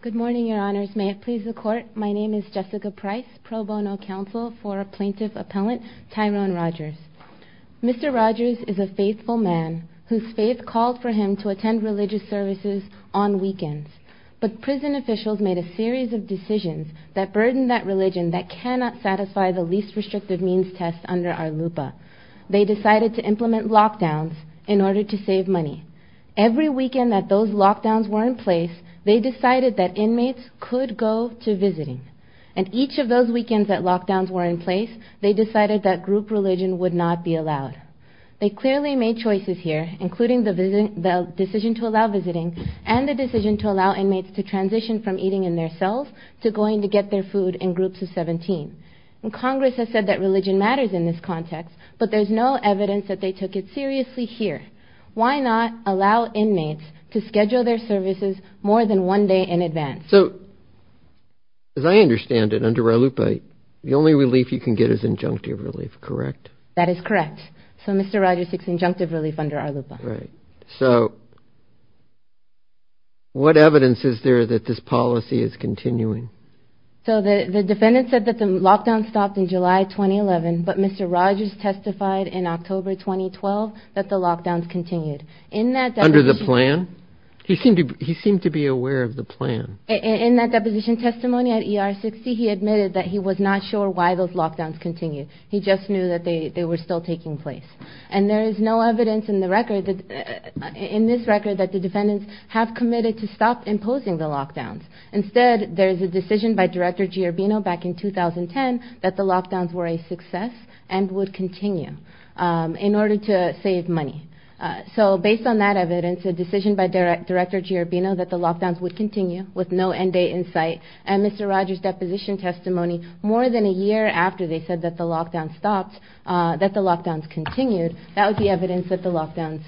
Good morning, your honors. May it please the court, my name is Jessica Price, pro bono counsel for plaintiff appellant Tyrone Rogers. Mr. Rogers is a faithful man whose faith called for him to attend religious services on weekends, but prison officials made a series of decisions that burdened that religion that cannot satisfy the least restrictive means test under our LUPA. They decided to implement lockdowns in order to save money. Every weekend that those lockdowns were in place, they decided that inmates could go to visiting, and each of those weekends that lockdowns were in place, they decided that group religion would not be allowed. They clearly made choices here, including the decision to allow visiting and the decision to allow inmates to get their food in groups of 17, and Congress has said that religion matters in this context, but there's no evidence that they took it seriously here. Why not allow inmates to schedule their services more than one day in advance? So as I understand it under our LUPA, the only relief you can get is injunctive relief, correct? That is correct. So Mr. Rogers takes injunctive relief under our LUPA. So what evidence is there that this policy is continuing? So the defendant said that the lockdown stopped in July 2011, but Mr. Rogers testified in October 2012 that the lockdowns continued. Under the plan? He seemed to be aware of the plan. In that deposition testimony at ER 60, he admitted that he was not sure why those lockdowns continued. He just knew that they were still taking place, and there is no evidence in the record that in this record that the defendants have committed to stop imposing the lockdowns. Instead, there is a decision by Director Giorbino back in 2010 that the lockdowns were a success and would continue in order to save money. So based on that evidence, a decision by Director Giorbino that the lockdowns would continue with no end date in sight, and Mr. Rogers' deposition testimony more than a year after they said that the lockdowns stopped, that the lockdowns continued, that would be evidence that the lockdowns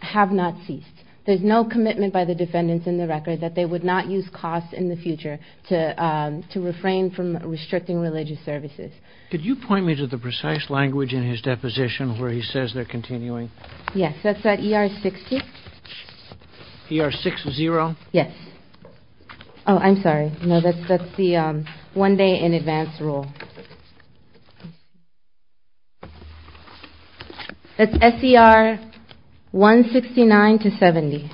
have not ceased. There is no commitment by the defendants in the record that they would not use costs in the future to refrain from restricting religious services. Could you point me to the precise language in his deposition where he says they're continuing? Yes, that's at ER 60. ER 60? Yes. Oh, I'm sorry. No, that's the one day in advance rule. That's SCR 169 to 70.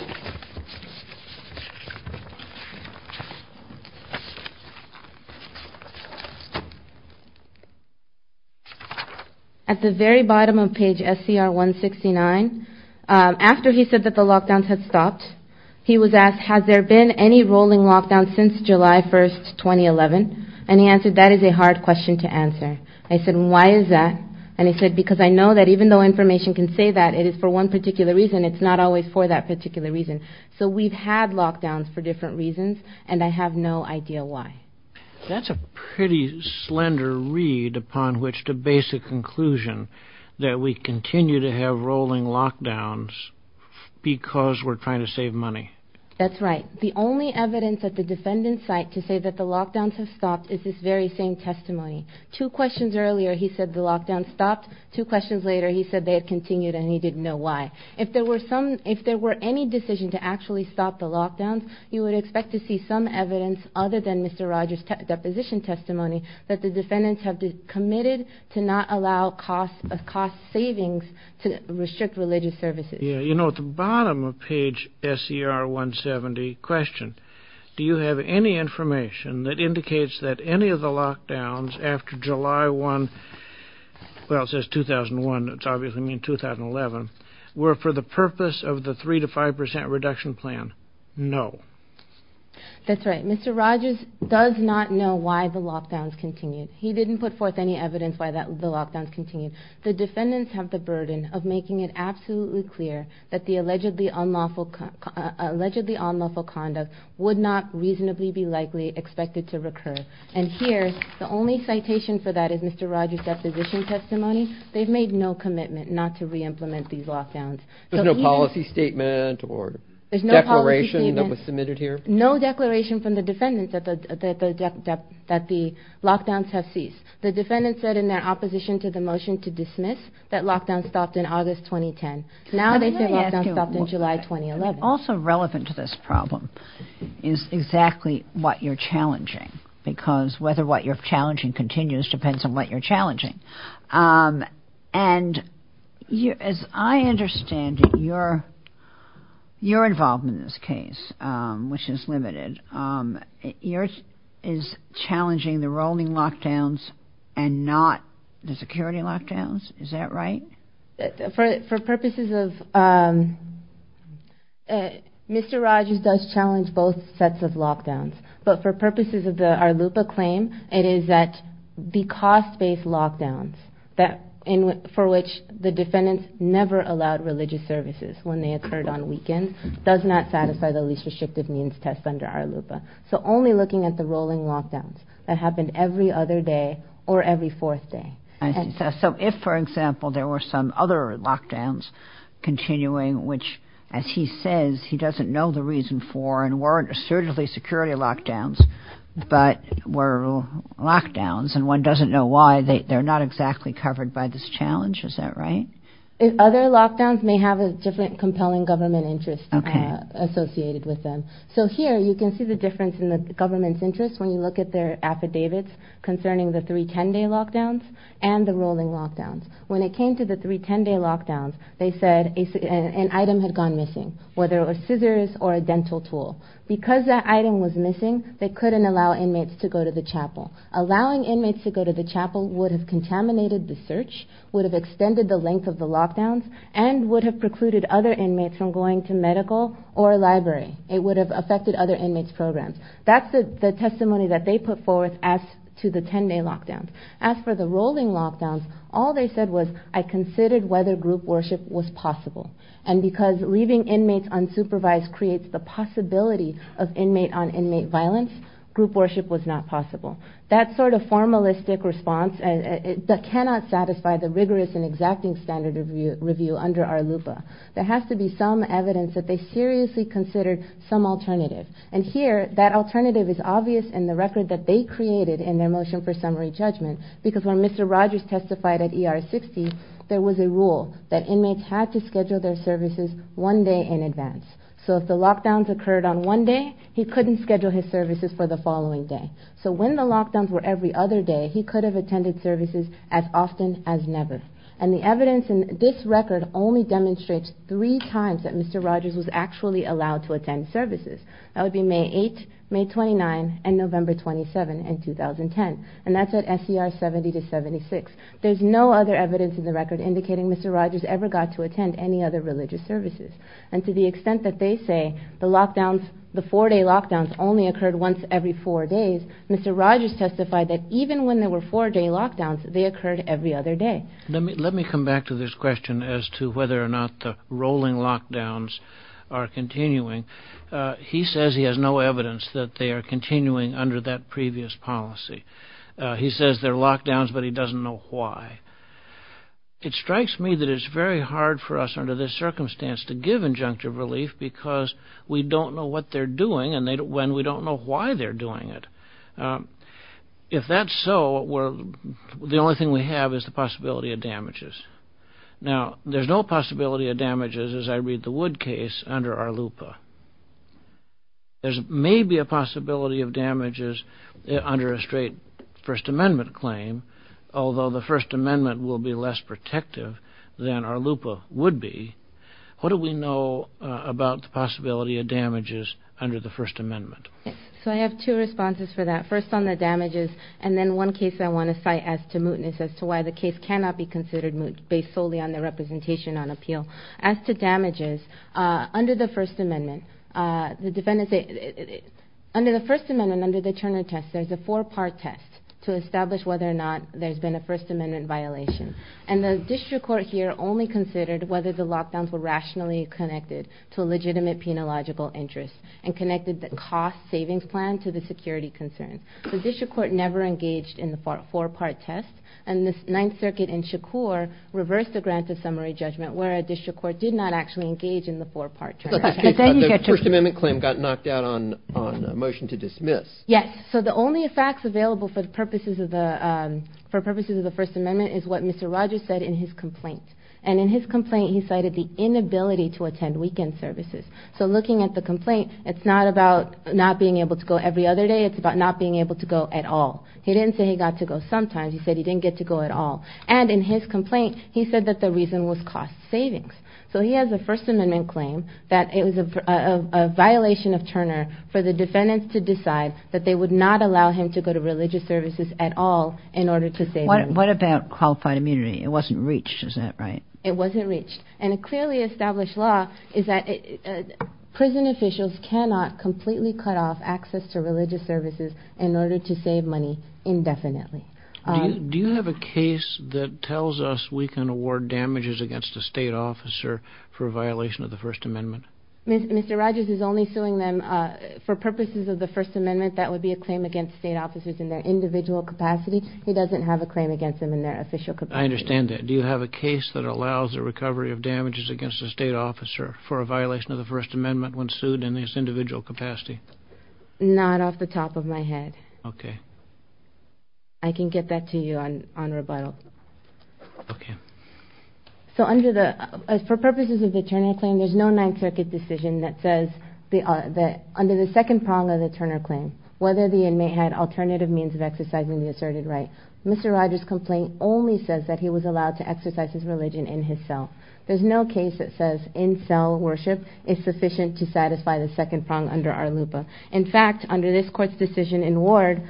At the very bottom of page SCR 169, after he said that the lockdowns had stopped, he was asked, has there been any rolling lockdown since July 1st, 2011? And he answered, that is a hard question to answer. I said, why is that? And he said, because I know that even though information can say that it is for one particular reason, it's not always for that particular reason. So we've had lockdowns for different reasons, and I have no idea why. That's a pretty slender read upon which to base a conclusion that we continue to have rolling lockdowns because we're trying to save money. That's right. The only evidence at the defendant's site to say that the lockdowns have stopped is this very same testimony. Two questions earlier, he said the lockdowns stopped. Two questions later, he said they had continued, and he didn't know why. If there were any decision to actually stop the lockdowns, you would expect to see some evidence other than Mr. Rogers' deposition testimony that the restrict religious services. Yeah, you know, at the bottom of page SCR 170, question, do you have any information that indicates that any of the lockdowns after July 1, well, it says 2001, it's obviously mean 2011, were for the purpose of the 3 to 5% reduction plan? No. That's right. Mr. Rogers does not know why the lockdowns continued. He didn't put forth any clear that the allegedly unlawful allegedly unlawful conduct would not reasonably be likely expected to recur. And here, the only citation for that is Mr. Rogers deposition testimony. They've made no commitment not to reimplement these lockdowns. There's no policy statement or there's no declaration that was submitted here. No declaration from the defendants that the that the lockdowns have ceased. The defendant said in their opposition to the motion to dismiss that lockdown stopped in August 2010. Now they say lockdown stopped in July 2011. Also relevant to this problem is exactly what you're challenging. Because whether what you're challenging continues depends on what you're challenging. And you as I understand it, you're, you're involved in this case, which is limited. Yours is challenging the rolling lockdowns, and not the security lockdowns. Is that right? For purposes of Mr. Rogers does challenge both sets of lockdowns. But for purposes of the Arlupa claim, it is that the cost based lockdowns that in for which the defendants never allowed religious services when they occurred on weekends does not satisfy the least of the Arlupa. So only looking at the rolling lockdowns that happened every other day, or every fourth day. So if, for example, there were some other lockdowns, continuing, which, as he says, he doesn't know the reason for and weren't assertively security lockdowns, but were lockdowns and one doesn't know why they're not exactly covered by this challenge. Is that right? Other lockdowns may have a different compelling government interest associated with them. So here you can see the difference in the government's interest when you look at their affidavits concerning the three 10 day lockdowns and the rolling lockdowns. When it came to the three 10 day lockdowns, they said an item had gone missing, whether it was scissors or a dental tool. Because that item was missing, they couldn't allow inmates to go to the chapel. Allowing inmates to go to the chapel would have contaminated the search, would have extended the length of the lockdowns, and would have precluded other inmates from going to medical or library. It would have affected other inmates' programs. That's the testimony that they put forth as to the 10 day lockdowns. As for the rolling lockdowns, all they said was, I considered whether group worship was possible. And because leaving inmates unsupervised creates the possibility of inmate on inmate violence, group worship was not possible. That sort of formalistic response cannot satisfy the rigorous and exacting standard review under our LUPA. There has to be some evidence that they seriously considered some alternative. And here, that alternative is obvious in the record that they created in their motion for summary judgment. Because when Mr. Rogers testified at ER 60, there was a rule that inmates had to schedule their services one day in advance. So if the lockdowns were every other day, he could have attended services as often as never. And the evidence in this record only demonstrates three times that Mr. Rogers was actually allowed to attend services. That would be May 8, May 29, and November 27 in 2010. And that's at SCR 70 to 76. There's no other evidence in the record indicating Mr. Rogers ever got to attend any other religious services. And to the extent that they say the four day lockdowns only occurred once every four days, Mr. Rogers testified that even when there were four day lockdowns, they occurred every other day. Let me come back to this question as to whether or not the rolling lockdowns are continuing. He says he has no evidence that they are continuing under that previous policy. He says they're lockdowns, but he doesn't know why. It strikes me that it's very hard for us under this circumstance to give injunctive relief because we don't know what they're doing and we don't know why they're doing it. If that's so, the only thing we have is the possibility of damages. Now, there's no possibility of damages, as I read the Wood case, under Arlupa. There's maybe a possibility of damages under a straight First Amendment claim, although the First Amendment will be less protective than Arlupa would be. What do we know about the possibility of damages under the First Amendment? So I have two responses for that. First on the damages and then one case I want to cite as to mootness as to why the case cannot be considered moot based solely on whether or not there's been a First Amendment violation. And the district court here only considered whether the lockdowns were rationally connected to a legitimate penological interest and connected the cost savings plan to the security concern. The district court never engaged in the four-part test, and the Ninth Circuit in Shakur reversed the grant of summary judgment where a district court did not actually engage in the four-part test. The First Amendment claim got knocked out on a motion to dismiss. Yes. So the only facts available for purposes of the First Amendment is what Mr. Rogers said in his complaint. And in his complaint, he cited the inability to attend weekend services. So looking at the complaint, it's not about not being able to go every other day. It's about not being able to go at all. He didn't say he got to go sometimes. He said he didn't get to go at all. And in his complaint, he said that the reason was cost savings. So he has a First Amendment claim that it was a violation of Turner for the defendants to decide that they would not allow him to go to religious services at all in order to save money. What about qualified immunity? It wasn't reached. Is that right? It wasn't reached. And a clearly established law is that prison officials cannot completely cut off access to religious services in order to save money indefinitely. Do you have a case that tells us we can award damages against a state officer for a violation of the First Amendment? Mr. Rogers is only suing them for purposes of the First Amendment. That would be a claim against state officers in their individual capacity. He doesn't have a claim against them in their official capacity. I understand that. Do you have a case that allows a recovery of damages against a state officer for a violation of the First Amendment when sued in its individual capacity? Not off the top of my head. I can get that to you on rebuttal. So for purposes of the Turner claim, there's no Ninth Circuit decision that says that under the second prong of the Turner claim, whether the inmate had alternative means of exercising the asserted right. Mr. Rogers' complaint only says that he was allowed to exercise his religion in his cell. There's no case that says in-cell worship is sufficient to satisfy the second prong under our LUPA. In fact, under this court's decision in Ward,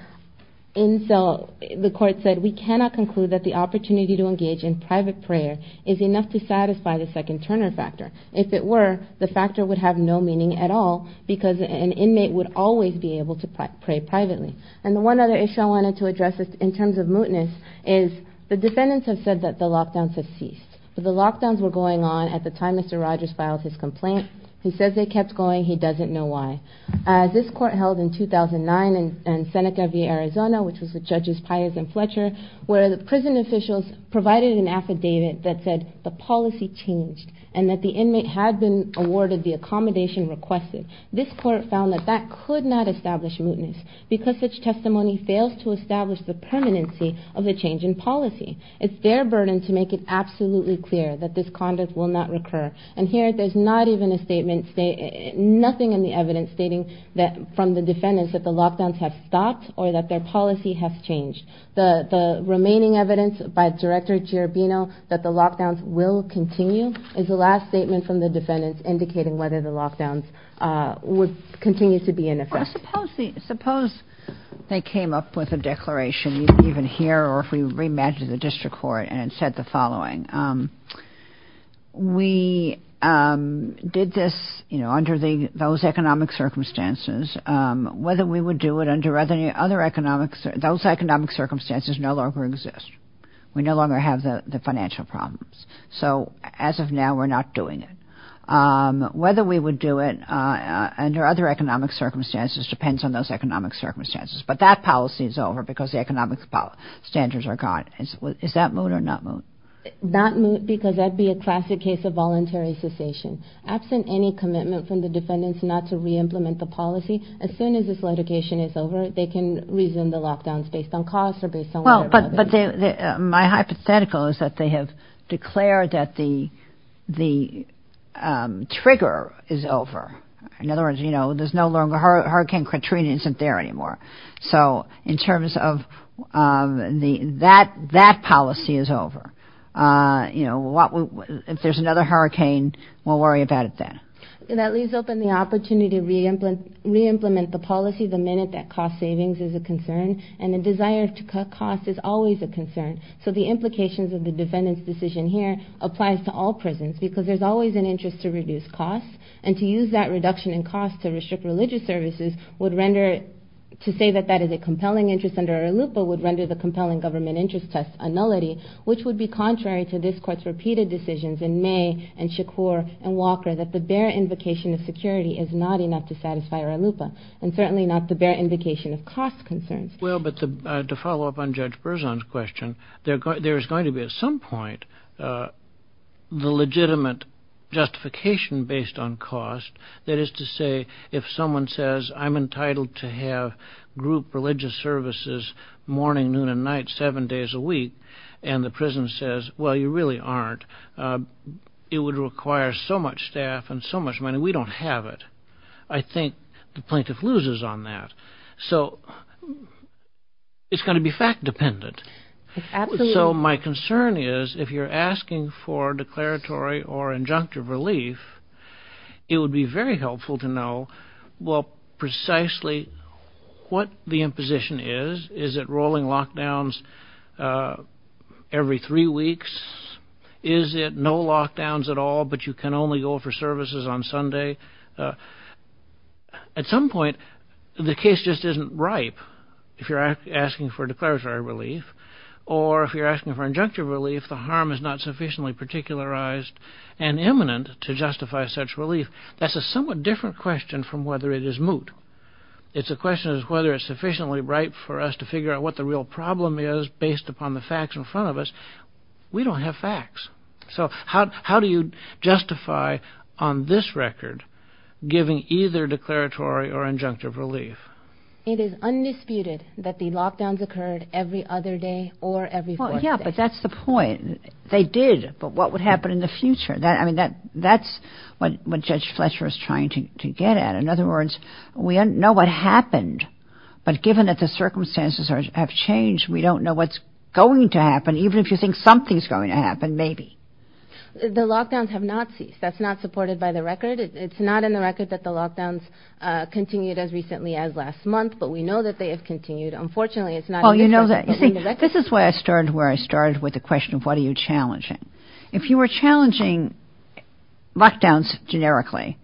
the court said we cannot conclude that the opportunity to engage in private prayer is enough to satisfy the second Turner factor. If it were, the factor would have no meaning at all because an inmate would always be able to pray privately. And the one other issue I wanted to address in terms of mootness is the defendants have said that the lockdowns have ceased. But the lockdowns were going on at the time Mr. Rogers filed his complaint. He says they kept going. He doesn't know why. This court held in 2009 in Seneca v. Arizona, which was with Judges Pius and Fletcher, where the prison officials provided an affidavit that said the policy changed and that the inmate had been awarded the accommodation requested. This court found that that could not establish mootness because such testimony fails to establish the permanency of the change in policy. It's their burden to make it absolutely clear that this conduct will not recur. And here, there's not even a statement, nothing in the evidence stating that from the defendants that the lockdowns have stopped or that their policy has changed. The remaining evidence by Director Giribino that the lockdowns will continue is the last statement from the defendants indicating whether the lockdowns would continue to be in effect. Well, suppose they came up with a declaration even here or if we reimagined the district court and said the following. We did this under those economic circumstances, whether we would do it under other economic circumstances, those economic circumstances no longer exist. We no longer have the financial problems. So as of now, we're not doing it. Whether we would do it under other economic circumstances depends on those economic circumstances, but that policy is over because the economic standards are gone. Is that moot or not moot? Not moot because that'd be a classic case of voluntary cessation. Absent any commitment from the defendants not to re-implement the policy, as soon as this litigation is over, they can reason the lockdowns based on costs or based on whatever. But my hypothetical is that they have declared that the trigger is over. In other words, you know, there's no longer Hurricane Katrina isn't there anymore. So in terms of that, that policy is over. You know, if there's another hurricane, we'll worry about it then. That leaves open the opportunity to re-implement the policy the minute that cost savings is a concern and the desire to cut costs is always a concern. So the implications of the defendant's decision here applies to all prisons because there's always an interest to reduce costs. And to use that reduction in costs to restrict religious services would render, to say that that is a compelling interest under IRLUIPA would render the compelling government interest test a nullity, which would be contrary to this court's repeated decisions in May and Shakur and Walker that the bare invocation of security is not enough to satisfy IRLUIPA. And certainly not the bare invocation of cost concerns. Well, but to follow up on Judge Berzon's question, there's going to be at some point the legitimate justification based on cost. That is to say, if someone says, I'm entitled to have group religious services morning, noon, and night, seven days a week, and the prison says, well, you really aren't, it would require so much staff and so much money, we don't have it. I think the plaintiff loses on that. So it's going to be fact dependent. So my concern is if you're asking for declaratory or injunctive relief, it would be very helpful to know, well, precisely what the imposition is. Is it rolling lockdowns every three weeks? Is it no lockdowns at all, but you can only go for services on Sunday? At some point, the case just isn't ripe if you're asking for declaratory relief. Or if you're asking for injunctive relief, the harm is not sufficiently particularized and imminent to justify such relief. That's a somewhat different question from whether it is moot. It's a question of whether it's sufficiently ripe for us to figure out what the real problem is based upon the facts in front of us. We don't have facts. So how do you justify on this record giving either declaratory or injunctive relief? It is undisputed that the lockdowns occurred every other day or every fourth day. Yeah, but that's the point. They did, but what would happen in the future? I mean, that's what Judge Fletcher is trying to get at. In other words, we don't know what happened, but given that the circumstances have changed, we don't know what's going to happen. Even if you think something's going to happen, maybe. The lockdowns have not ceased. That's not supported by the record. It's not in the record that the lockdowns continued as recently as last month, but we know that they have continued. Unfortunately, it's not in the record. This is where I started with the question of what are you challenging. If you were challenging lockdowns generically,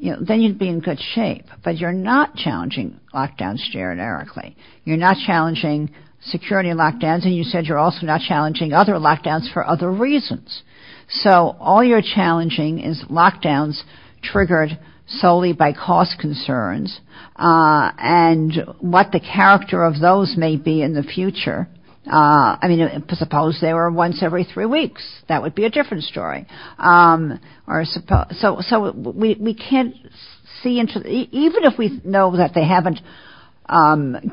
then you'd be in good shape. But you're not challenging lockdowns generically. You're not challenging security lockdowns, and you said you're also not challenging other lockdowns for other reasons. So all you're challenging is lockdowns triggered solely by cost concerns and what the character of those may be in the future. I mean, suppose they were once every three weeks. That would be a different story. So we can't see into it. Even if we know that they haven't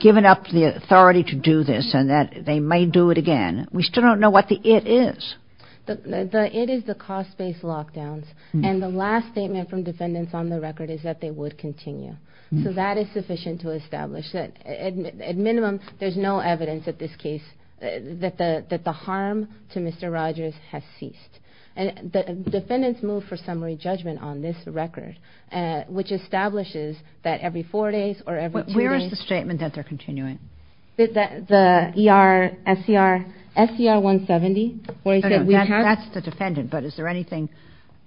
given up the authority to do this and that they may do it again, we still don't know what the it is. The it is the cost-based lockdowns, and the last statement from defendants on the record is that they would continue. So that is sufficient to establish that at minimum, there's no evidence at this case that the harm to Mr. Rogers has ceased. And the defendants moved for summary judgment on this record, which establishes that every four days or every two days. Where is the statement that they're continuing? The ER, SCR, SCR 170, where he said we have. That's the defendant, but is there anything,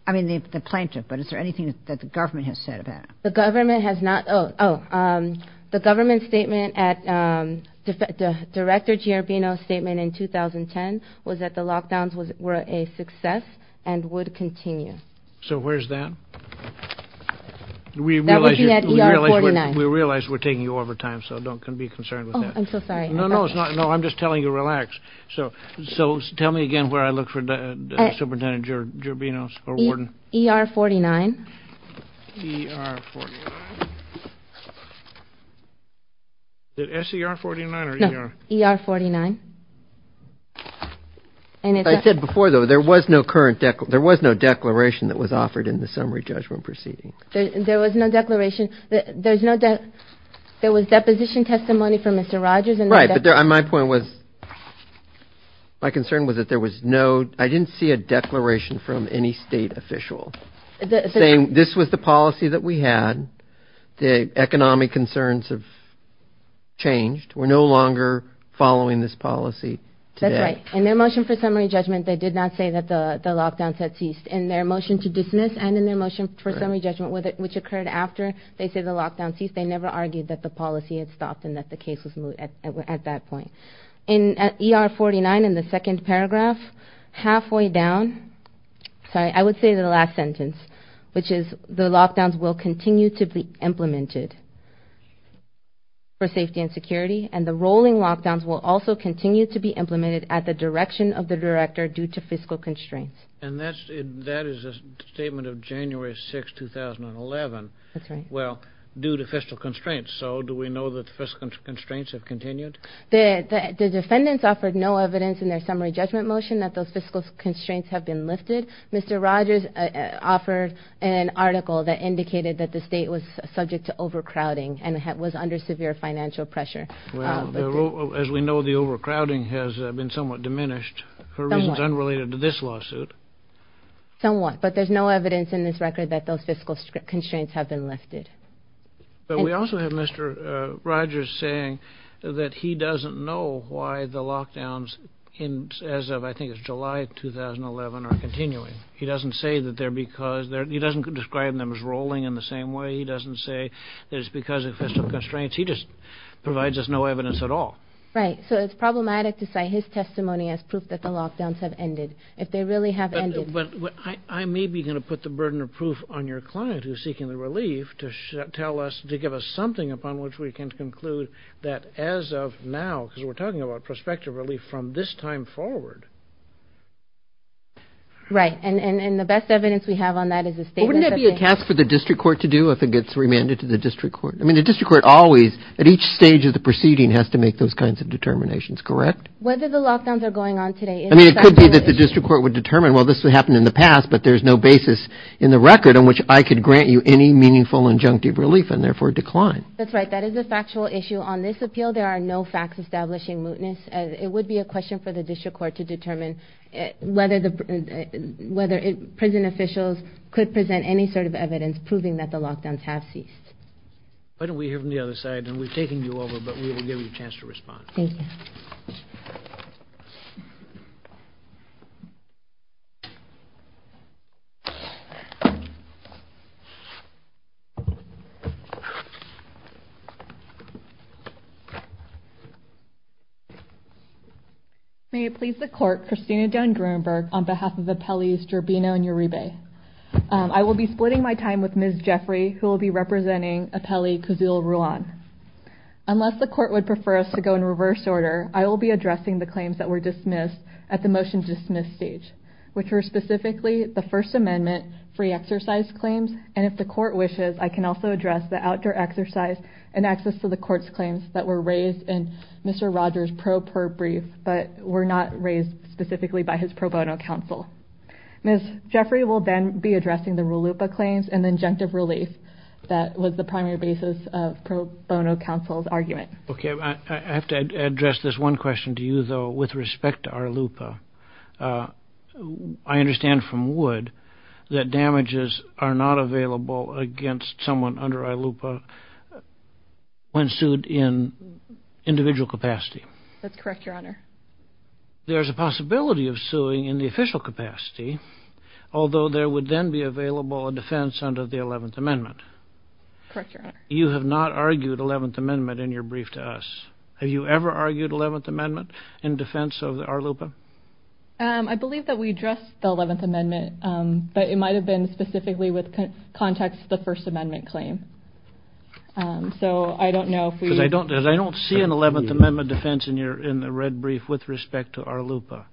I mean, the plaintiff, but is there anything that the government has said about it? The government has not. Oh, oh, the government statement at the director, G.R. Bino statement in 2010 was that the lockdowns was were a success and would continue. So where's that? We realize that we realize we realize we're taking you over time, so don't can be concerned with that. I'm so sorry. No, no, it's not. No, I'm just telling you, relax. So so tell me again where I look for the superintendent. You're being a warden. E.R. forty nine. The S.E.R. forty nine. E.R. forty nine. And I said before, though, there was no current deck. There was no declaration that was offered in the summary judgment proceeding. There was no declaration. There's no there was deposition testimony from Mr. Rogers. Right. But my point was my concern was that there was no I didn't see a declaration from any state official saying this was the policy that we had. The economic concerns have changed. We're no longer following this policy. That's right. And their motion for summary judgment. They did not say that the lockdowns had ceased in their motion to dismiss and in their motion for summary judgment, which occurred after they say the lockdowns. They never argued that the policy had stopped and that the case was at that point in E.R. forty nine in the second paragraph. Halfway down. So I would say the last sentence, which is the lockdowns will continue to be implemented. For safety and security and the rolling lockdowns will also continue to be implemented at the direction of the director due to fiscal constraints. And that's that is a statement of January 6, 2011. That's right. Well, due to fiscal constraints. So do we know that fiscal constraints have continued? The defendants offered no evidence in their summary judgment motion that those fiscal constraints have been lifted. Mr. Rogers offered an article that indicated that the state was subject to overcrowding and was under severe financial pressure. Well, as we know, the overcrowding has been somewhat diminished for reasons unrelated to this lawsuit. Somewhat. But there's no evidence in this record that those fiscal constraints have been lifted. But we also have Mr. Rogers saying that he doesn't know why the lockdowns in as of I think it's July 2011 are continuing. He doesn't say that there because he doesn't describe them as rolling in the same way. He doesn't say that it's because of fiscal constraints. He just provides us no evidence at all. Right. So it's problematic to say his testimony as proof that the lockdowns have ended. If they really have ended. But I may be going to put the burden of proof on your client who's seeking the relief to tell us, to give us something upon which we can conclude that as of now, because we're talking about prospective relief from this time forward. Right. And the best evidence we have on that is a statement. Wouldn't it be a task for the district court to do if it gets remanded to the district court? I mean, the district court always at each stage of the proceeding has to make those kinds of determinations. Correct. Whether the lockdowns are going on today. I mean, it could be that the district court would determine, well, this would happen in the past, but there's no basis in the record on which I could grant you any meaningful injunctive relief and therefore decline. That's right. That is a factual issue on this appeal. There are no facts establishing mootness. It would be a question for the district court to determine whether the whether prison officials could present any sort of evidence proving that the lockdowns have ceased. Why don't we hear from the other side and we're taking you over, but we will give you a chance to respond. Thank you. May it please the court, Christina Dunn-Gruenberg on behalf of the appellees Gerbino and Uribe. I will be splitting my time with Ms. Jeffrey, who will be representing appellee Kuzil Ruan. Unless the court would prefer us to go in reverse order, I will be addressing the claims that were dismissed at the motion dismiss stage, which were specifically the First Amendment free exercise claims. And if the court wishes, I can also address the outdoor exercise and access to the court's claims that were raised in Mr. Rogers pro per brief, but were not raised specifically by his pro bono counsel. Ms. Jeffrey will then be addressing the RLUIPA claims and injunctive relief. That was the primary basis of pro bono counsel's argument. OK, I have to address this one question to you, though, with respect to RLUIPA. I understand from Wood that damages are not available against someone under RLUIPA when sued in individual capacity. That's correct, Your Honor. There is a possibility of suing in the official capacity, although there would then be available a defense under the 11th Amendment. Correct, Your Honor. You have not argued 11th Amendment in your brief to us. Have you ever argued 11th Amendment in defense of RLUIPA? I believe that we addressed the 11th Amendment, but it might have been specifically with context the First Amendment claim. I don't see an 11th Amendment defense in the red brief with respect to RLUIPA.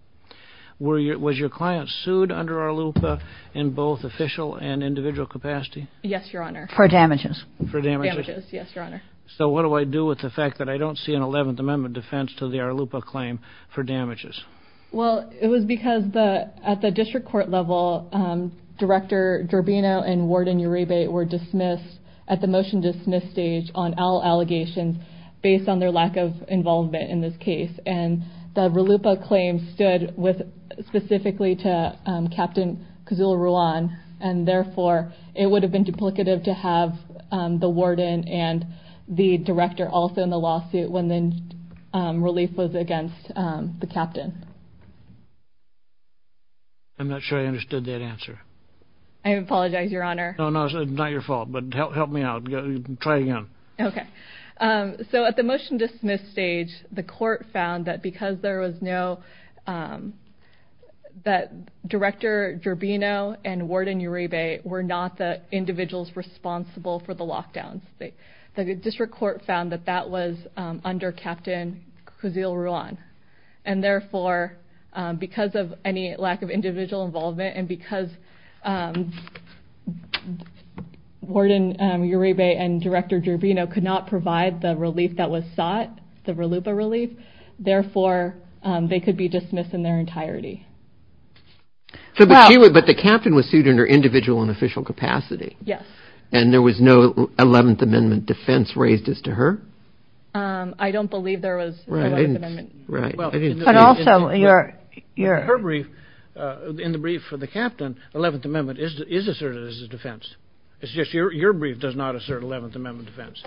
Was your client sued under RLUIPA in both official and individual capacity? Yes, Your Honor. For damages. For damages. Yes, Your Honor. So what do I do with the fact that I don't see an 11th Amendment defense to the RLUIPA claim for damages? Well, it was because at the district court level, Director Durbino and Warden Uribe were dismissed at the motion dismiss stage on all allegations based on their lack of involvement in this case. And the RLUIPA claim stood specifically to Captain Kuzula-Ruan, and therefore, it would have been duplicative to have the warden and the director also in the lawsuit when the relief was against the captain. I'm not sure I understood that answer. I apologize, Your Honor. No, no, it's not your fault, but help me out. Try again. Okay. So at the motion dismiss stage, the court found that because there was no – that Director Durbino and Warden Uribe were not the individuals responsible for the lockdown. The district court found that that was under Captain Kuzula-Ruan, and therefore, because of any lack of individual involvement and because Warden Uribe and Director Durbino could not provide the relief that was sought, the RLUIPA relief, therefore, they could be dismissed in their entirety. But the captain was sued under individual and official capacity. Yes. And there was no Eleventh Amendment defense raised as to her? I don't believe there was an Eleventh Amendment. Right. But also, your – Her brief, in the brief for the captain, Eleventh Amendment is asserted as a defense. It's just your brief does not assert Eleventh Amendment defense.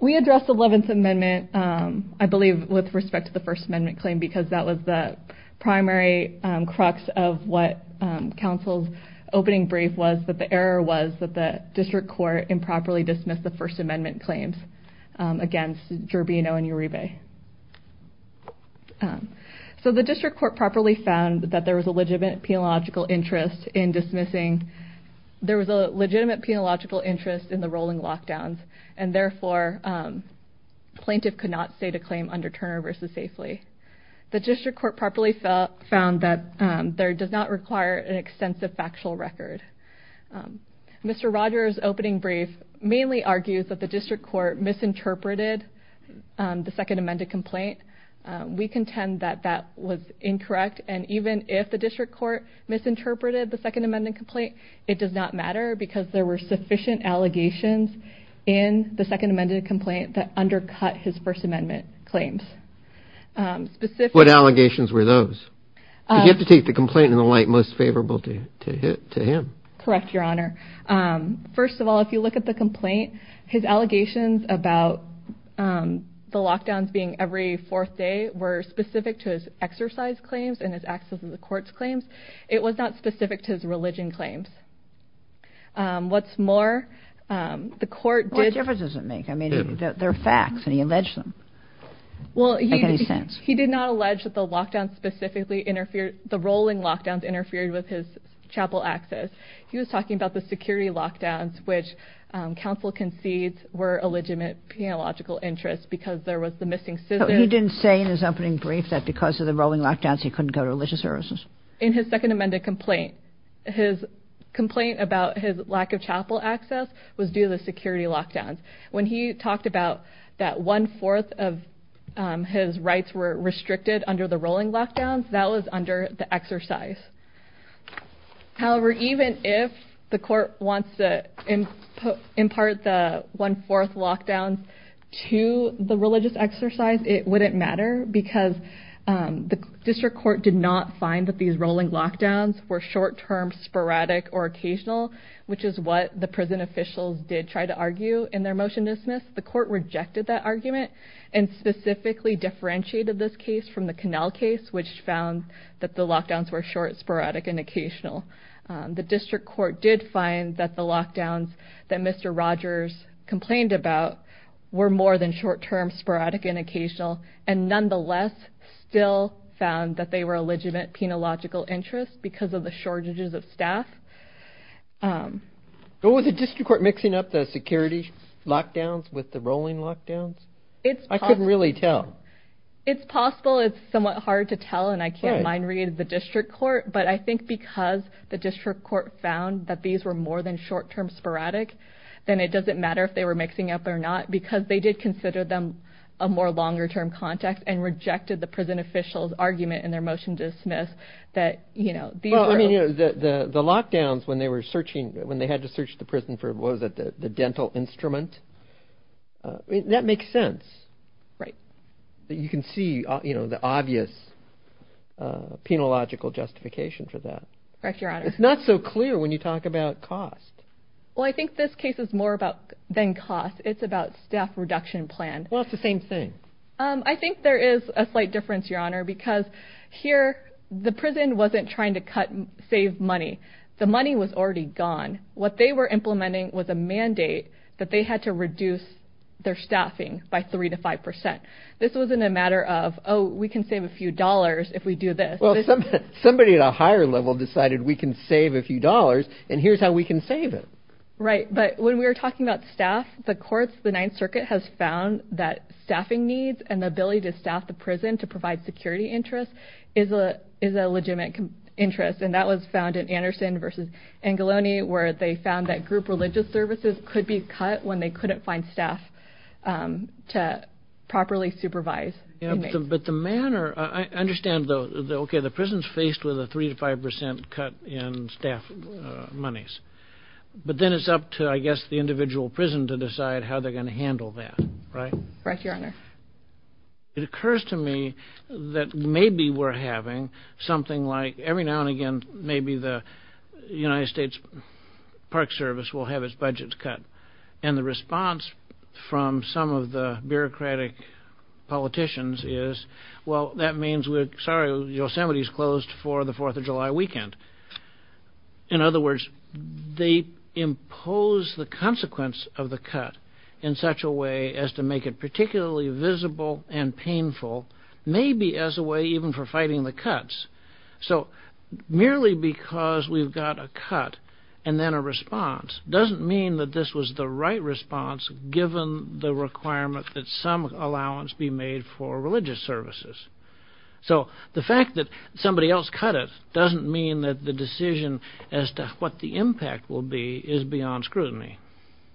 We addressed Eleventh Amendment, I believe, with respect to the First Amendment claim because that was the primary crux of what counsel's opening brief was, that the error was that the district court improperly dismissed the First Amendment claims against Durbino and Uribe. So the district court properly found that there was a legitimate penological interest in dismissing – there was a legitimate penological interest in the rolling lockdowns, and therefore, plaintiff could not state a claim under Turner v. Safely. The district court properly found that there does not require an extensive factual record. Mr. Rogers' opening brief mainly argues that the district court misinterpreted the Second Amendment complaint. We contend that that was incorrect, and even if the district court misinterpreted the Second Amendment complaint, it does not matter because there were sufficient allegations in the Second Amendment complaint that undercut his First Amendment claims. What allegations were those? You have to take the complaint in the light most favorable to him. Correct, Your Honor. First of all, if you look at the complaint, his allegations about the lockdowns being every fourth day were specific to his exercise claims and his access to the court's claims. It was not specific to his religion claims. What's more, the court did – Well, what difference does it make? I mean, they're facts, and he alleged them. Well, he – Make any sense? He did not allege that the lockdowns specifically interfered – the rolling lockdowns interfered with his chapel access. He was talking about the security lockdowns, which counsel concedes were illegitimate theological interests because there was the missing scissors. But he didn't say in his opening brief that because of the rolling lockdowns, he couldn't go to religious services? In his Second Amendment complaint, his complaint about his lack of chapel access was due to the security lockdowns. When he talked about that one-fourth of his rights were restricted under the rolling lockdowns, that was under the exercise. However, even if the court wants to impart the one-fourth lockdowns to the religious exercise, it wouldn't matter because the district court did not find that these rolling lockdowns were short-term, sporadic, or occasional, which is what the prison officials did try to argue in their motion to dismiss. The court rejected that argument and specifically differentiated this case from the Connell case, which found that the lockdowns were short, sporadic, and occasional. The district court did find that the lockdowns that Mr. Rogers complained about were more than short-term, sporadic, and occasional, and nonetheless still found that they were illegitimate penological interests because of the shortages of staff. Was the district court mixing up the security lockdowns with the rolling lockdowns? I couldn't really tell. It's possible. It's somewhat hard to tell, and I can't mind-read the district court. But I think because the district court found that these were more than short-term, sporadic, then it doesn't matter if they were mixing up or not because they did consider them a more longer-term context and rejected the prison officials' argument in their motion to dismiss that these were- Well, I mean, the lockdowns, when they had to search the prison for, what was it, the dental instrument, that makes sense. Right. You can see the obvious penological justification for that. Correct, Your Honor. It's not so clear when you talk about cost. Well, I think this case is more about-than cost. It's about staff reduction plan. Well, it's the same thing. I think there is a slight difference, Your Honor, because here the prison wasn't trying to cut-save money. The money was already gone. What they were implementing was a mandate that they had to reduce their staffing by 3 to 5 percent. This wasn't a matter of, oh, we can save a few dollars if we do this. Well, somebody at a higher level decided we can save a few dollars, and here's how we can save it. Right. But when we were talking about staff, the courts, the Ninth Circuit has found that staffing needs and the ability to staff the prison to provide security interest is a legitimate interest. And that was found in Anderson v. Angoloni where they found that group religious services could be cut when they couldn't find staff to properly supervise inmates. But the manner-I understand, okay, the prison's faced with a 3 to 5 percent cut in staff monies. But then it's up to, I guess, the individual prison to decide how they're going to handle that, right? Right, Your Honor. It occurs to me that maybe we're having something like-every now and again maybe the United States Park Service will have its budgets cut. And the response from some of the bureaucratic politicians is, well, that means we're-sorry, Yosemite's closed for the Fourth of July weekend. In other words, they impose the consequence of the cut in such a way as to make it particularly visible and painful, maybe as a way even for fighting the cuts. So merely because we've got a cut and then a response doesn't mean that this was the right response given the requirement that some allowance be made for religious services. So the fact that somebody else cut it doesn't mean that the decision as to what the impact will be is beyond scrutiny.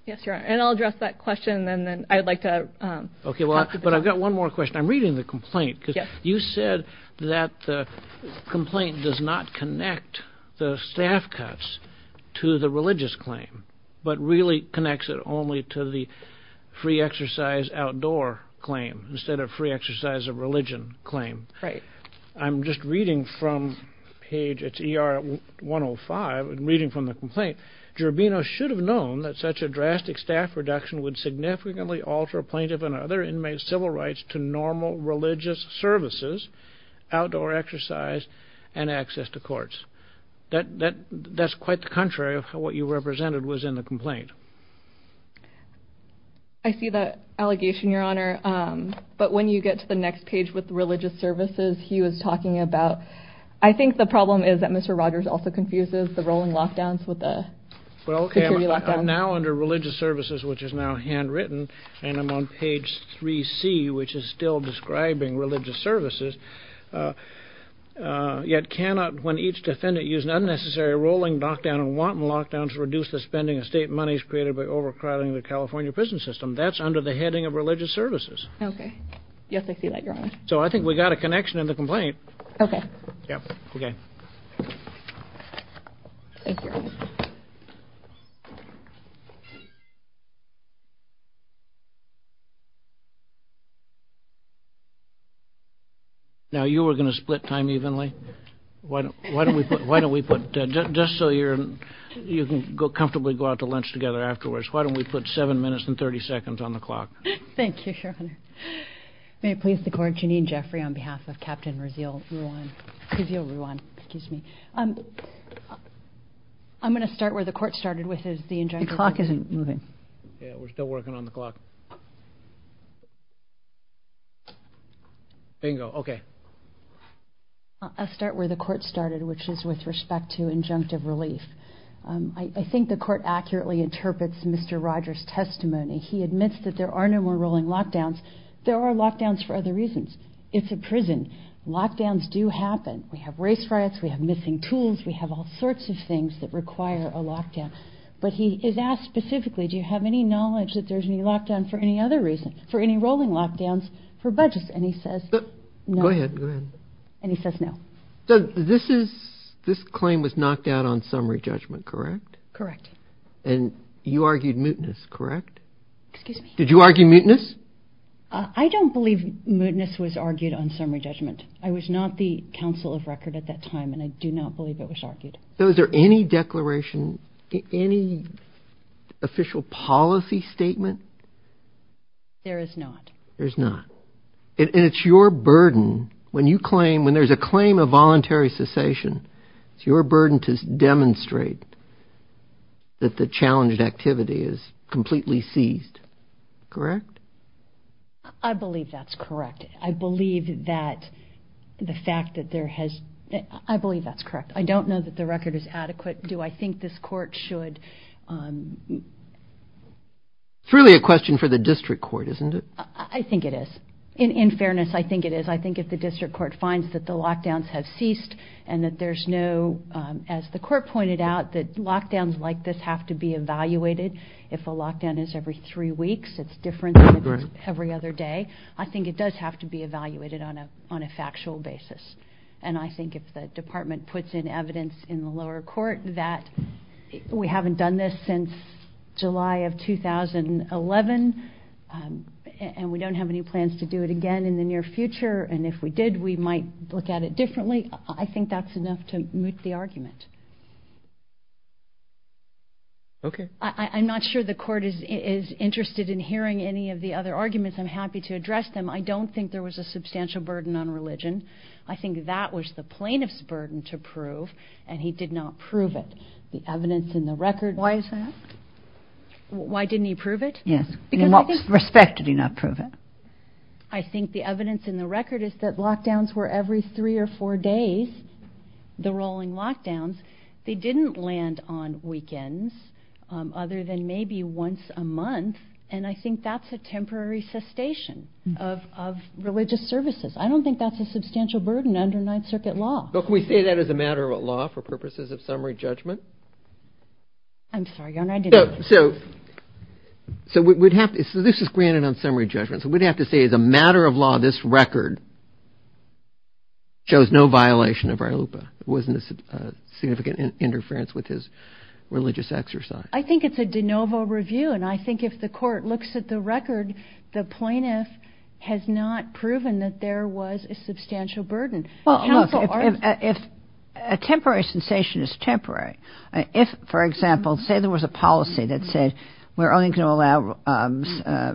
Yes, Your Honor. And I'll address that question and then I'd like to- The complaint does not connect the staff cuts to the religious claim, but really connects it only to the free exercise outdoor claim instead of free exercise of religion claim. Right. I'm just reading from page-it's ER 105. I'm reading from the complaint. Gerbino should have known that such a drastic staff reduction would significantly alter plaintiff and other inmates' civil rights to normal religious services, outdoor exercise, and access to courts. That's quite the contrary of what you represented was in the complaint. I see that allegation, Your Honor. But when you get to the next page with religious services, he was talking about-I think the problem is that Mr. Rogers also confuses the rolling lockdowns with the security lockdowns. Well, okay. I'm now under religious services, which is now handwritten, and I'm on page 3C, which is still describing religious services. Yet cannot, when each defendant used an unnecessary rolling lockdown and wanton lockdown to reduce the spending of state monies created by overcrowding the California prison system. That's under the heading of religious services. Okay. Yes, I see that, Your Honor. So I think we got a connection in the complaint. Yep. Okay. Thank you, Your Honor. Now, you were going to split time evenly. Why don't we put-just so you can comfortably go out to lunch together afterwards, why don't we put 7 minutes and 30 seconds on the clock? Thank you, Your Honor. May it please the Court, Janine Jeffrey on behalf of Captain Rizal Ruan. Rizal Ruan, excuse me. I'm going to start where the Court started with the injunction. The clock isn't moving. Yeah, we're still working on the clock. Bingo. Okay. I'll start where the Court started, which is with respect to injunctive relief. I think the Court accurately interprets Mr. Rogers' testimony. He admits that there are no more rolling lockdowns. There are lockdowns for other reasons. It's a prison. Lockdowns do happen. We have race riots. We have missing tools. We have all sorts of things that require a lockdown. But he is asked specifically, do you have any knowledge that there's any lockdown for any rolling lockdowns for budgets? And he says no. Go ahead. And he says no. So this claim was knocked out on summary judgment, correct? Correct. And you argued mootness, correct? Excuse me? Did you argue mootness? I don't believe mootness was argued on summary judgment. I was not the counsel of record at that time, and I do not believe it was argued. So is there any declaration, any official policy statement? There is not. There's not. And it's your burden when you claim, when there's a claim of voluntary cessation, it's your burden to demonstrate that the challenged activity is completely seized, correct? I believe that's correct. I believe that the fact that there has, I believe that's correct. I don't know that the record is adequate. Do I think this court should? It's really a question for the district court, isn't it? I think it is. In fairness, I think it is. I think if the district court finds that the lockdowns have ceased and that there's no, as the court pointed out, that lockdowns like this have to be evaluated. If a lockdown is every three weeks, it's different than if it's every other day. I think it does have to be evaluated on a factual basis. And I think if the department puts in evidence in the lower court that we haven't done this since July of 2011 and we don't have any plans to do it again in the near future, and if we did, we might look at it differently, I think that's enough to moot the argument. Okay. I'm not sure the court is interested in hearing any of the other arguments. I'm happy to address them. I don't think there was a substantial burden on religion. I think that was the plaintiff's burden to prove, and he did not prove it. The evidence in the record... Why is that? Why didn't he prove it? Yes. In what respect did he not prove it? I think the evidence in the record is that lockdowns were every three or four days, the rolling lockdowns. They didn't land on weekends other than maybe once a month, and I think that's a temporary cessation of religious services. I don't think that's a substantial burden under Ninth Circuit law. Well, can we say that is a matter of law for purposes of summary judgment? I'm sorry, Your Honor, I didn't... So this is granted on summary judgment, so we'd have to say as a matter of law this record shows no violation of our LUPA. It wasn't a significant interference with his religious exercise. I think it's a de novo review, and I think if the court looks at the record, the plaintiff has not proven that there was a substantial burden. Well, look, if a temporary cessation is temporary, if, for example, say there was a policy that said we're only going to allow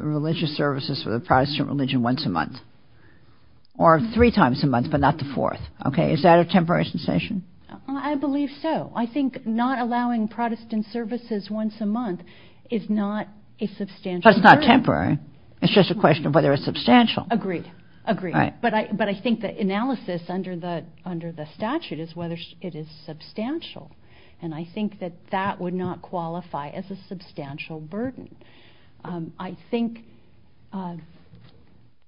religious services for the Protestant religion once a month, or three times a month but not the fourth, okay, is that a temporary cessation? I believe so. I think not allowing Protestant services once a month is not a substantial burden. But it's not temporary. It's just a question of whether it's substantial. Agreed. Agreed. But I think the analysis under the statute is whether it is substantial, and I think that that would not qualify as a substantial burden. I think...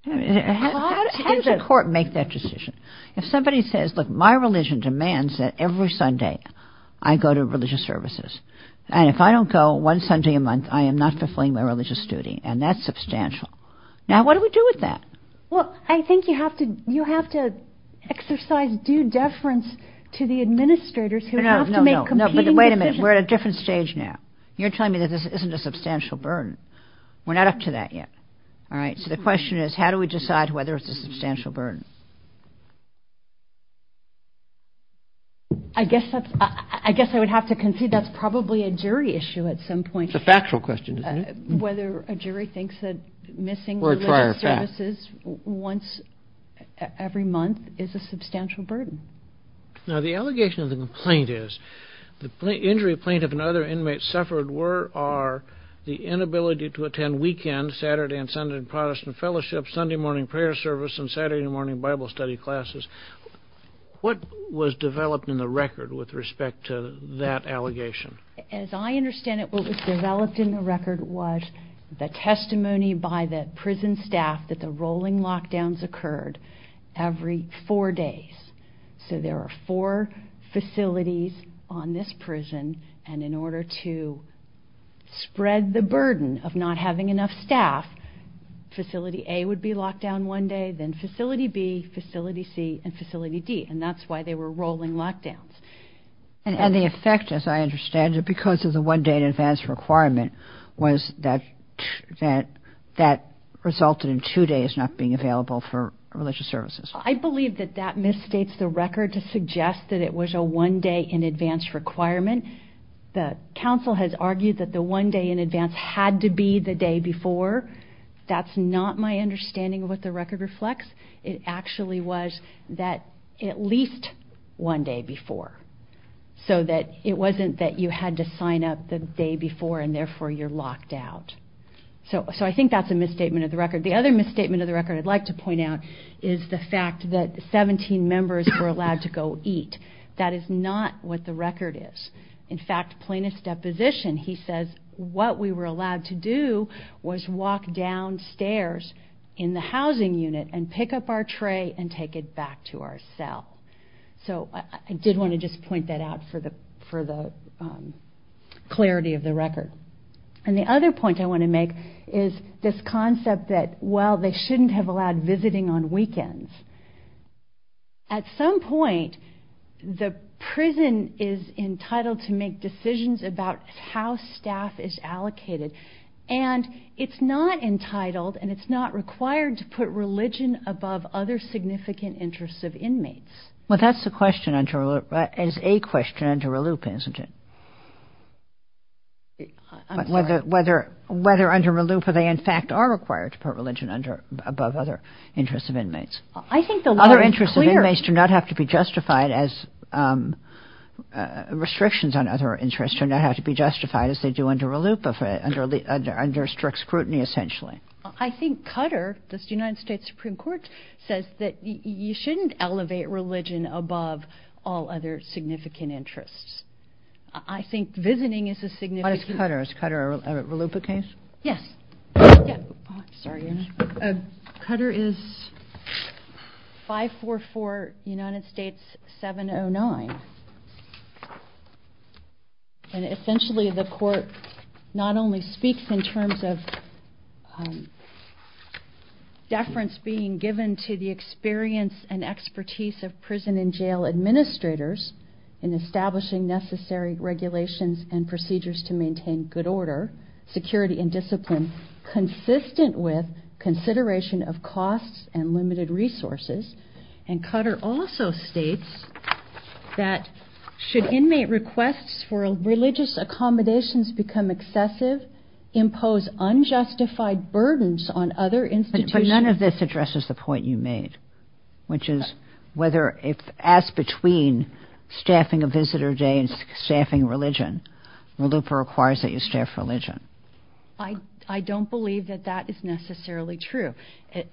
How does a court make that decision? If somebody says, look, my religion demands that every Sunday I go to religious services, and if I don't go one Sunday a month, I am not fulfilling my religious duty, and that's substantial. Now, what do we do with that? Well, I think you have to exercise due deference to the administrators who have to make competing decisions. No, no, no. Wait a minute. We're at a different stage now. You're telling me that this isn't a substantial burden. We're not up to that yet. All right? So the question is, how do we decide whether it's a substantial burden? I guess I would have to concede that's probably a jury issue at some point. It's a factual question, isn't it? Whether a jury thinks that missing religious services once every month is a substantial burden. Now, the allegation of the complaint is the injury plaintiff and other inmates suffered were the inability to attend weekend Saturday and Sunday Protestant fellowship, Sunday morning prayer service, and Saturday morning Bible study classes. What was developed in the record with respect to that allegation? As I understand it, what was developed in the record was the testimony by the prison staff that the rolling lockdowns occurred every four days. So there are four facilities on this prison, and in order to spread the burden of not having enough staff, Facility A would be locked down one day, then Facility B, Facility C, and Facility D. And that's why they were rolling lockdowns. And the effect, as I understand it, because of the one day in advance requirement, was that that resulted in two days not being available for religious services. I believe that that misstates the record to suggest that it was a one day in advance requirement. The counsel has argued that the one day in advance had to be the day before. That's not my understanding of what the record reflects. It actually was that at least one day before, so that it wasn't that you had to sign up the day before and therefore you're locked out. So I think that's a misstatement of the record. The other misstatement of the record I'd like to point out is the fact that 17 members were allowed to go eat. That is not what the record is. In fact, plaintiff's deposition, he says, what we were allowed to do was walk downstairs in the housing unit and pick up our tray and take it back to our cell. So I did want to just point that out for the clarity of the record. And the other point I want to make is this concept that, well, they shouldn't have allowed visiting on weekends. At some point, the prison is entitled to make decisions about how staff is allocated, and it's not entitled and it's not required to put religion above other significant interests of inmates. Well, that's a question under a loop, isn't it? I'm sorry. Whether under a loop or they in fact are required to put religion above other interests of inmates. I think the law is clear. Other interests of inmates do not have to be justified as restrictions on other interests do not have to be justified as they do under a loop, under strict scrutiny essentially. I think Cutter, this United States Supreme Court, says that you shouldn't elevate religion above all other significant interests. I think visiting is a significant... What is Cutter? Is Cutter a looper case? Yes. Cutter is 544 United States 709. And essentially the court not only speaks in terms of deference being given to the experience and expertise of prison and jail administrators in establishing necessary regulations and procedures to maintain good order, security and discipline, consistent with consideration of costs and limited resources. And Cutter also states that should inmate requests for religious accommodations become excessive, impose unjustified burdens on other institutions... But none of this addresses the point you made, which is whether if asked between staffing a visitor day and staffing religion, the looper requires that you staff religion. I don't believe that that is necessarily true.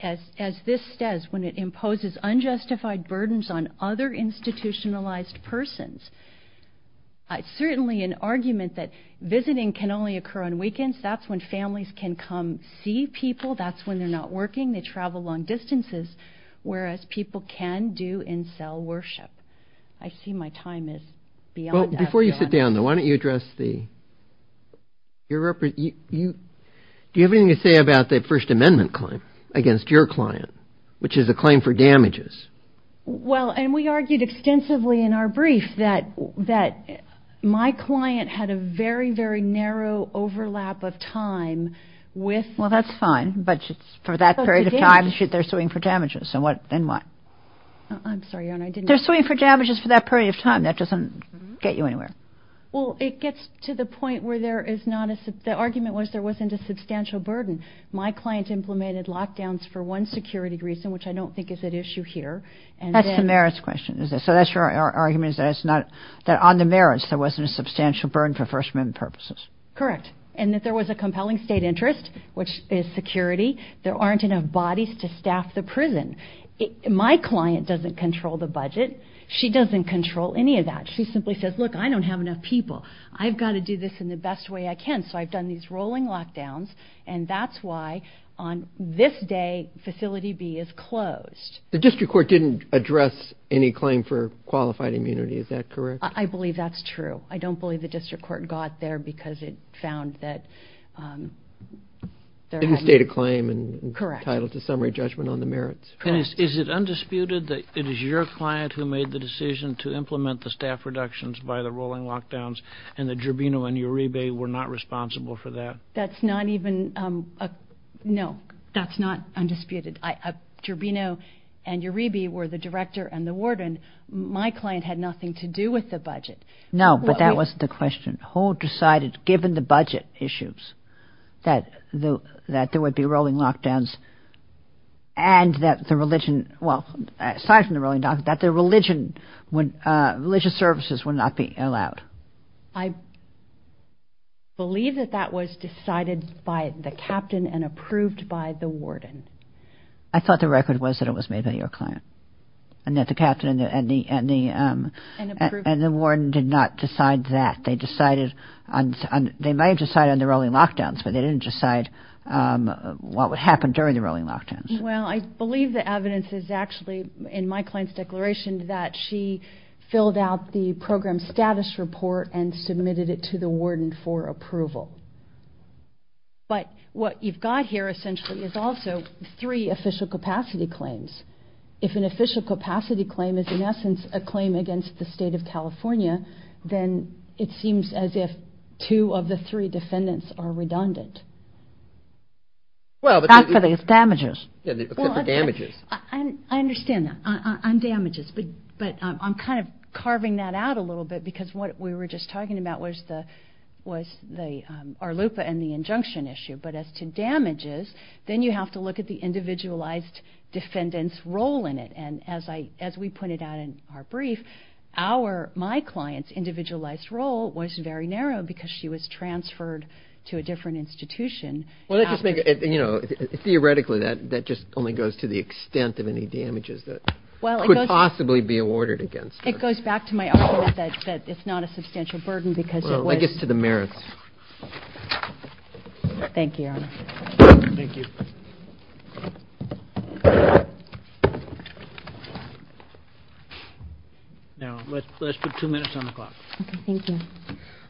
As this says, when it imposes unjustified burdens on other institutionalized persons, it's certainly an argument that visiting can only occur on weekends. That's when families can come see people. That's when they're not working. They travel long distances, whereas people can do in-cell worship. I see my time is beyond... Well, before you sit down, though, why don't you address the... Do you have anything to say about the First Amendment claim against your client, which is a claim for damages? Well, and we argued extensively in our brief that my client had a very, very narrow overlap of time with... Well, that's fine, but for that period of time, they're suing for damages. Then what? I'm sorry, Your Honor, I didn't... They're suing for damages for that period of time. That doesn't get you anywhere. Well, it gets to the point where there is not a... The argument was there wasn't a substantial burden. My client implemented lockdowns for one security reason, which I don't think is at issue here. That's the merits question, is it? So that's your argument is that it's not... That on the merits, there wasn't a substantial burden for First Amendment purposes. Correct. And that there was a compelling state interest, which is security. There aren't enough bodies to staff the prison. My client doesn't control the budget. She doesn't control any of that. She simply says, look, I don't have enough people. I've got to do this in the best way I can. So I've done these rolling lockdowns, and that's why on this day, Facility B is closed. The district court didn't address any claim for qualified immunity. Is that correct? I believe that's true. I don't believe the district court got there because it found that... It didn't state a claim entitled to summary judgment on the merits. And is it undisputed that it is your client who made the decision to implement the staff reductions by the rolling lockdowns, and that Gerbino and Uribe were not responsible for that? That's not even... No, that's not undisputed. Gerbino and Uribe were the director and the warden. My client had nothing to do with the budget. No, but that was the question. Who decided, given the budget issues, that there would be rolling lockdowns and that the religion... Well, aside from the rolling lockdowns, that the religious services would not be allowed? I believe that that was decided by the captain and approved by the warden. I thought the record was that it was made by your client and that the captain and the warden did not decide that. They might have decided on the rolling lockdowns, but they didn't decide what would happen during the rolling lockdowns. Well, I believe the evidence is actually in my client's declaration that she filled out the program status report and submitted it to the warden for approval. But what you've got here, essentially, is also three official capacity claims. If an official capacity claim is, in essence, a claim against the state of California, then it seems as if two of the three defendants are redundant. Well, but... Except for the damages. Except for damages. I understand that, on damages. But I'm kind of carving that out a little bit because what we were just talking about was the ARLUPA and the injunction issue. But as to damages, then you have to look at the individualized defendant's role in it. And as we put it out in our brief, my client's individualized role was very narrow because she was transferred to a different institution. Theoretically, that just only goes to the extent of any damages that could possibly be awarded against her. It goes back to my argument that it's not a substantial burden because it was... Well, I guess to the merits. Thank you, Your Honor. Thank you. Now, let's put two minutes on the clock. Okay, thank you.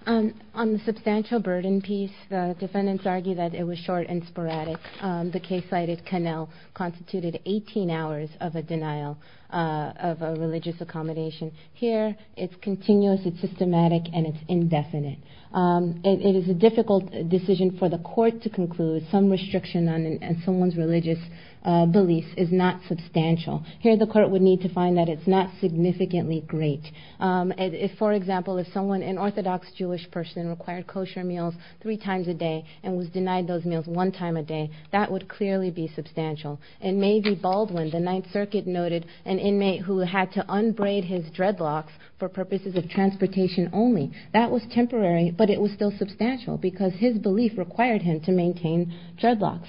On the substantial burden piece, the defendants argue that it was short and sporadic. The case cited, Connell, constituted 18 hours of a denial of a religious accommodation. Here, it's continuous, it's systematic, and it's indefinite. It is a difficult decision for the court to conclude. Some restriction on someone's religious beliefs is not substantial. Here, the court would need to find that it's not significantly great. For example, if someone, an orthodox Jewish person, required kosher meals three times a day and was denied those meals one time a day, that would clearly be substantial. In Maeve Baldwin, the Ninth Circuit noted an inmate who had to unbraid his dreadlocks for purposes of transportation only. That was temporary, but it was still substantial because his belief required him to maintain dreadlocks.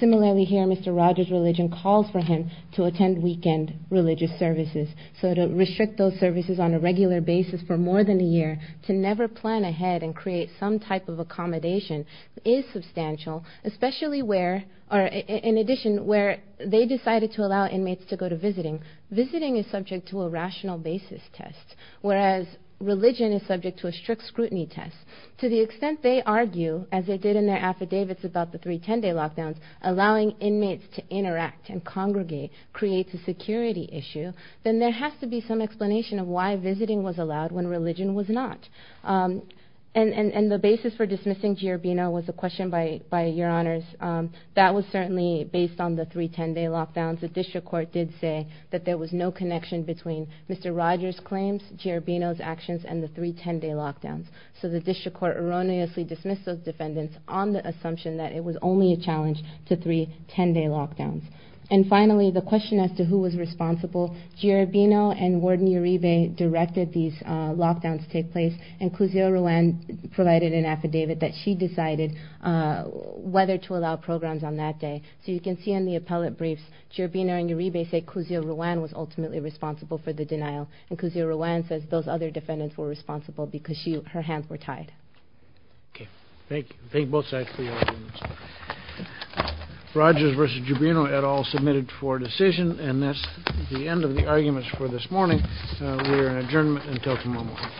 Similarly here, Mr. Rogers' religion calls for him to attend weekend religious services. So to restrict those services on a regular basis for more than a year, to never plan ahead and create some type of accommodation is substantial, especially where, in addition, where they decided to allow inmates to go to visiting. Visiting is subject to a rational basis test, whereas religion is subject to a strict scrutiny test. To the extent they argue, as they did in their affidavits about the 310-day lockdowns, allowing inmates to interact and congregate creates a security issue, then there has to be some explanation of why visiting was allowed when religion was not. And the basis for dismissing Giorbino was a question by Your Honors. That was certainly based on the 310-day lockdowns. The District Court did say that there was no connection between Mr. Rogers' claims, Giorbino's actions, and the 310-day lockdowns. So the District Court erroneously dismissed those defendants on the assumption that it was only a challenge to 310-day lockdowns. And finally, the question as to who was responsible, Giorbino and Warden Uribe directed these lockdowns take place, and Cluzeo Rowan provided an affidavit that she decided whether to allow programs on that day. So you can see in the appellate briefs, Giorbino and Uribe say Cluzeo Rowan was ultimately responsible for the denial, and Cluzeo Rowan says those other defendants were responsible because her hands were tied. Okay. Thank you. Thank you both sides for your arguments. Rogers v. Giorbino et al. submitted for decision, and that's the end of the arguments for this morning. We are in adjournment until tomorrow morning.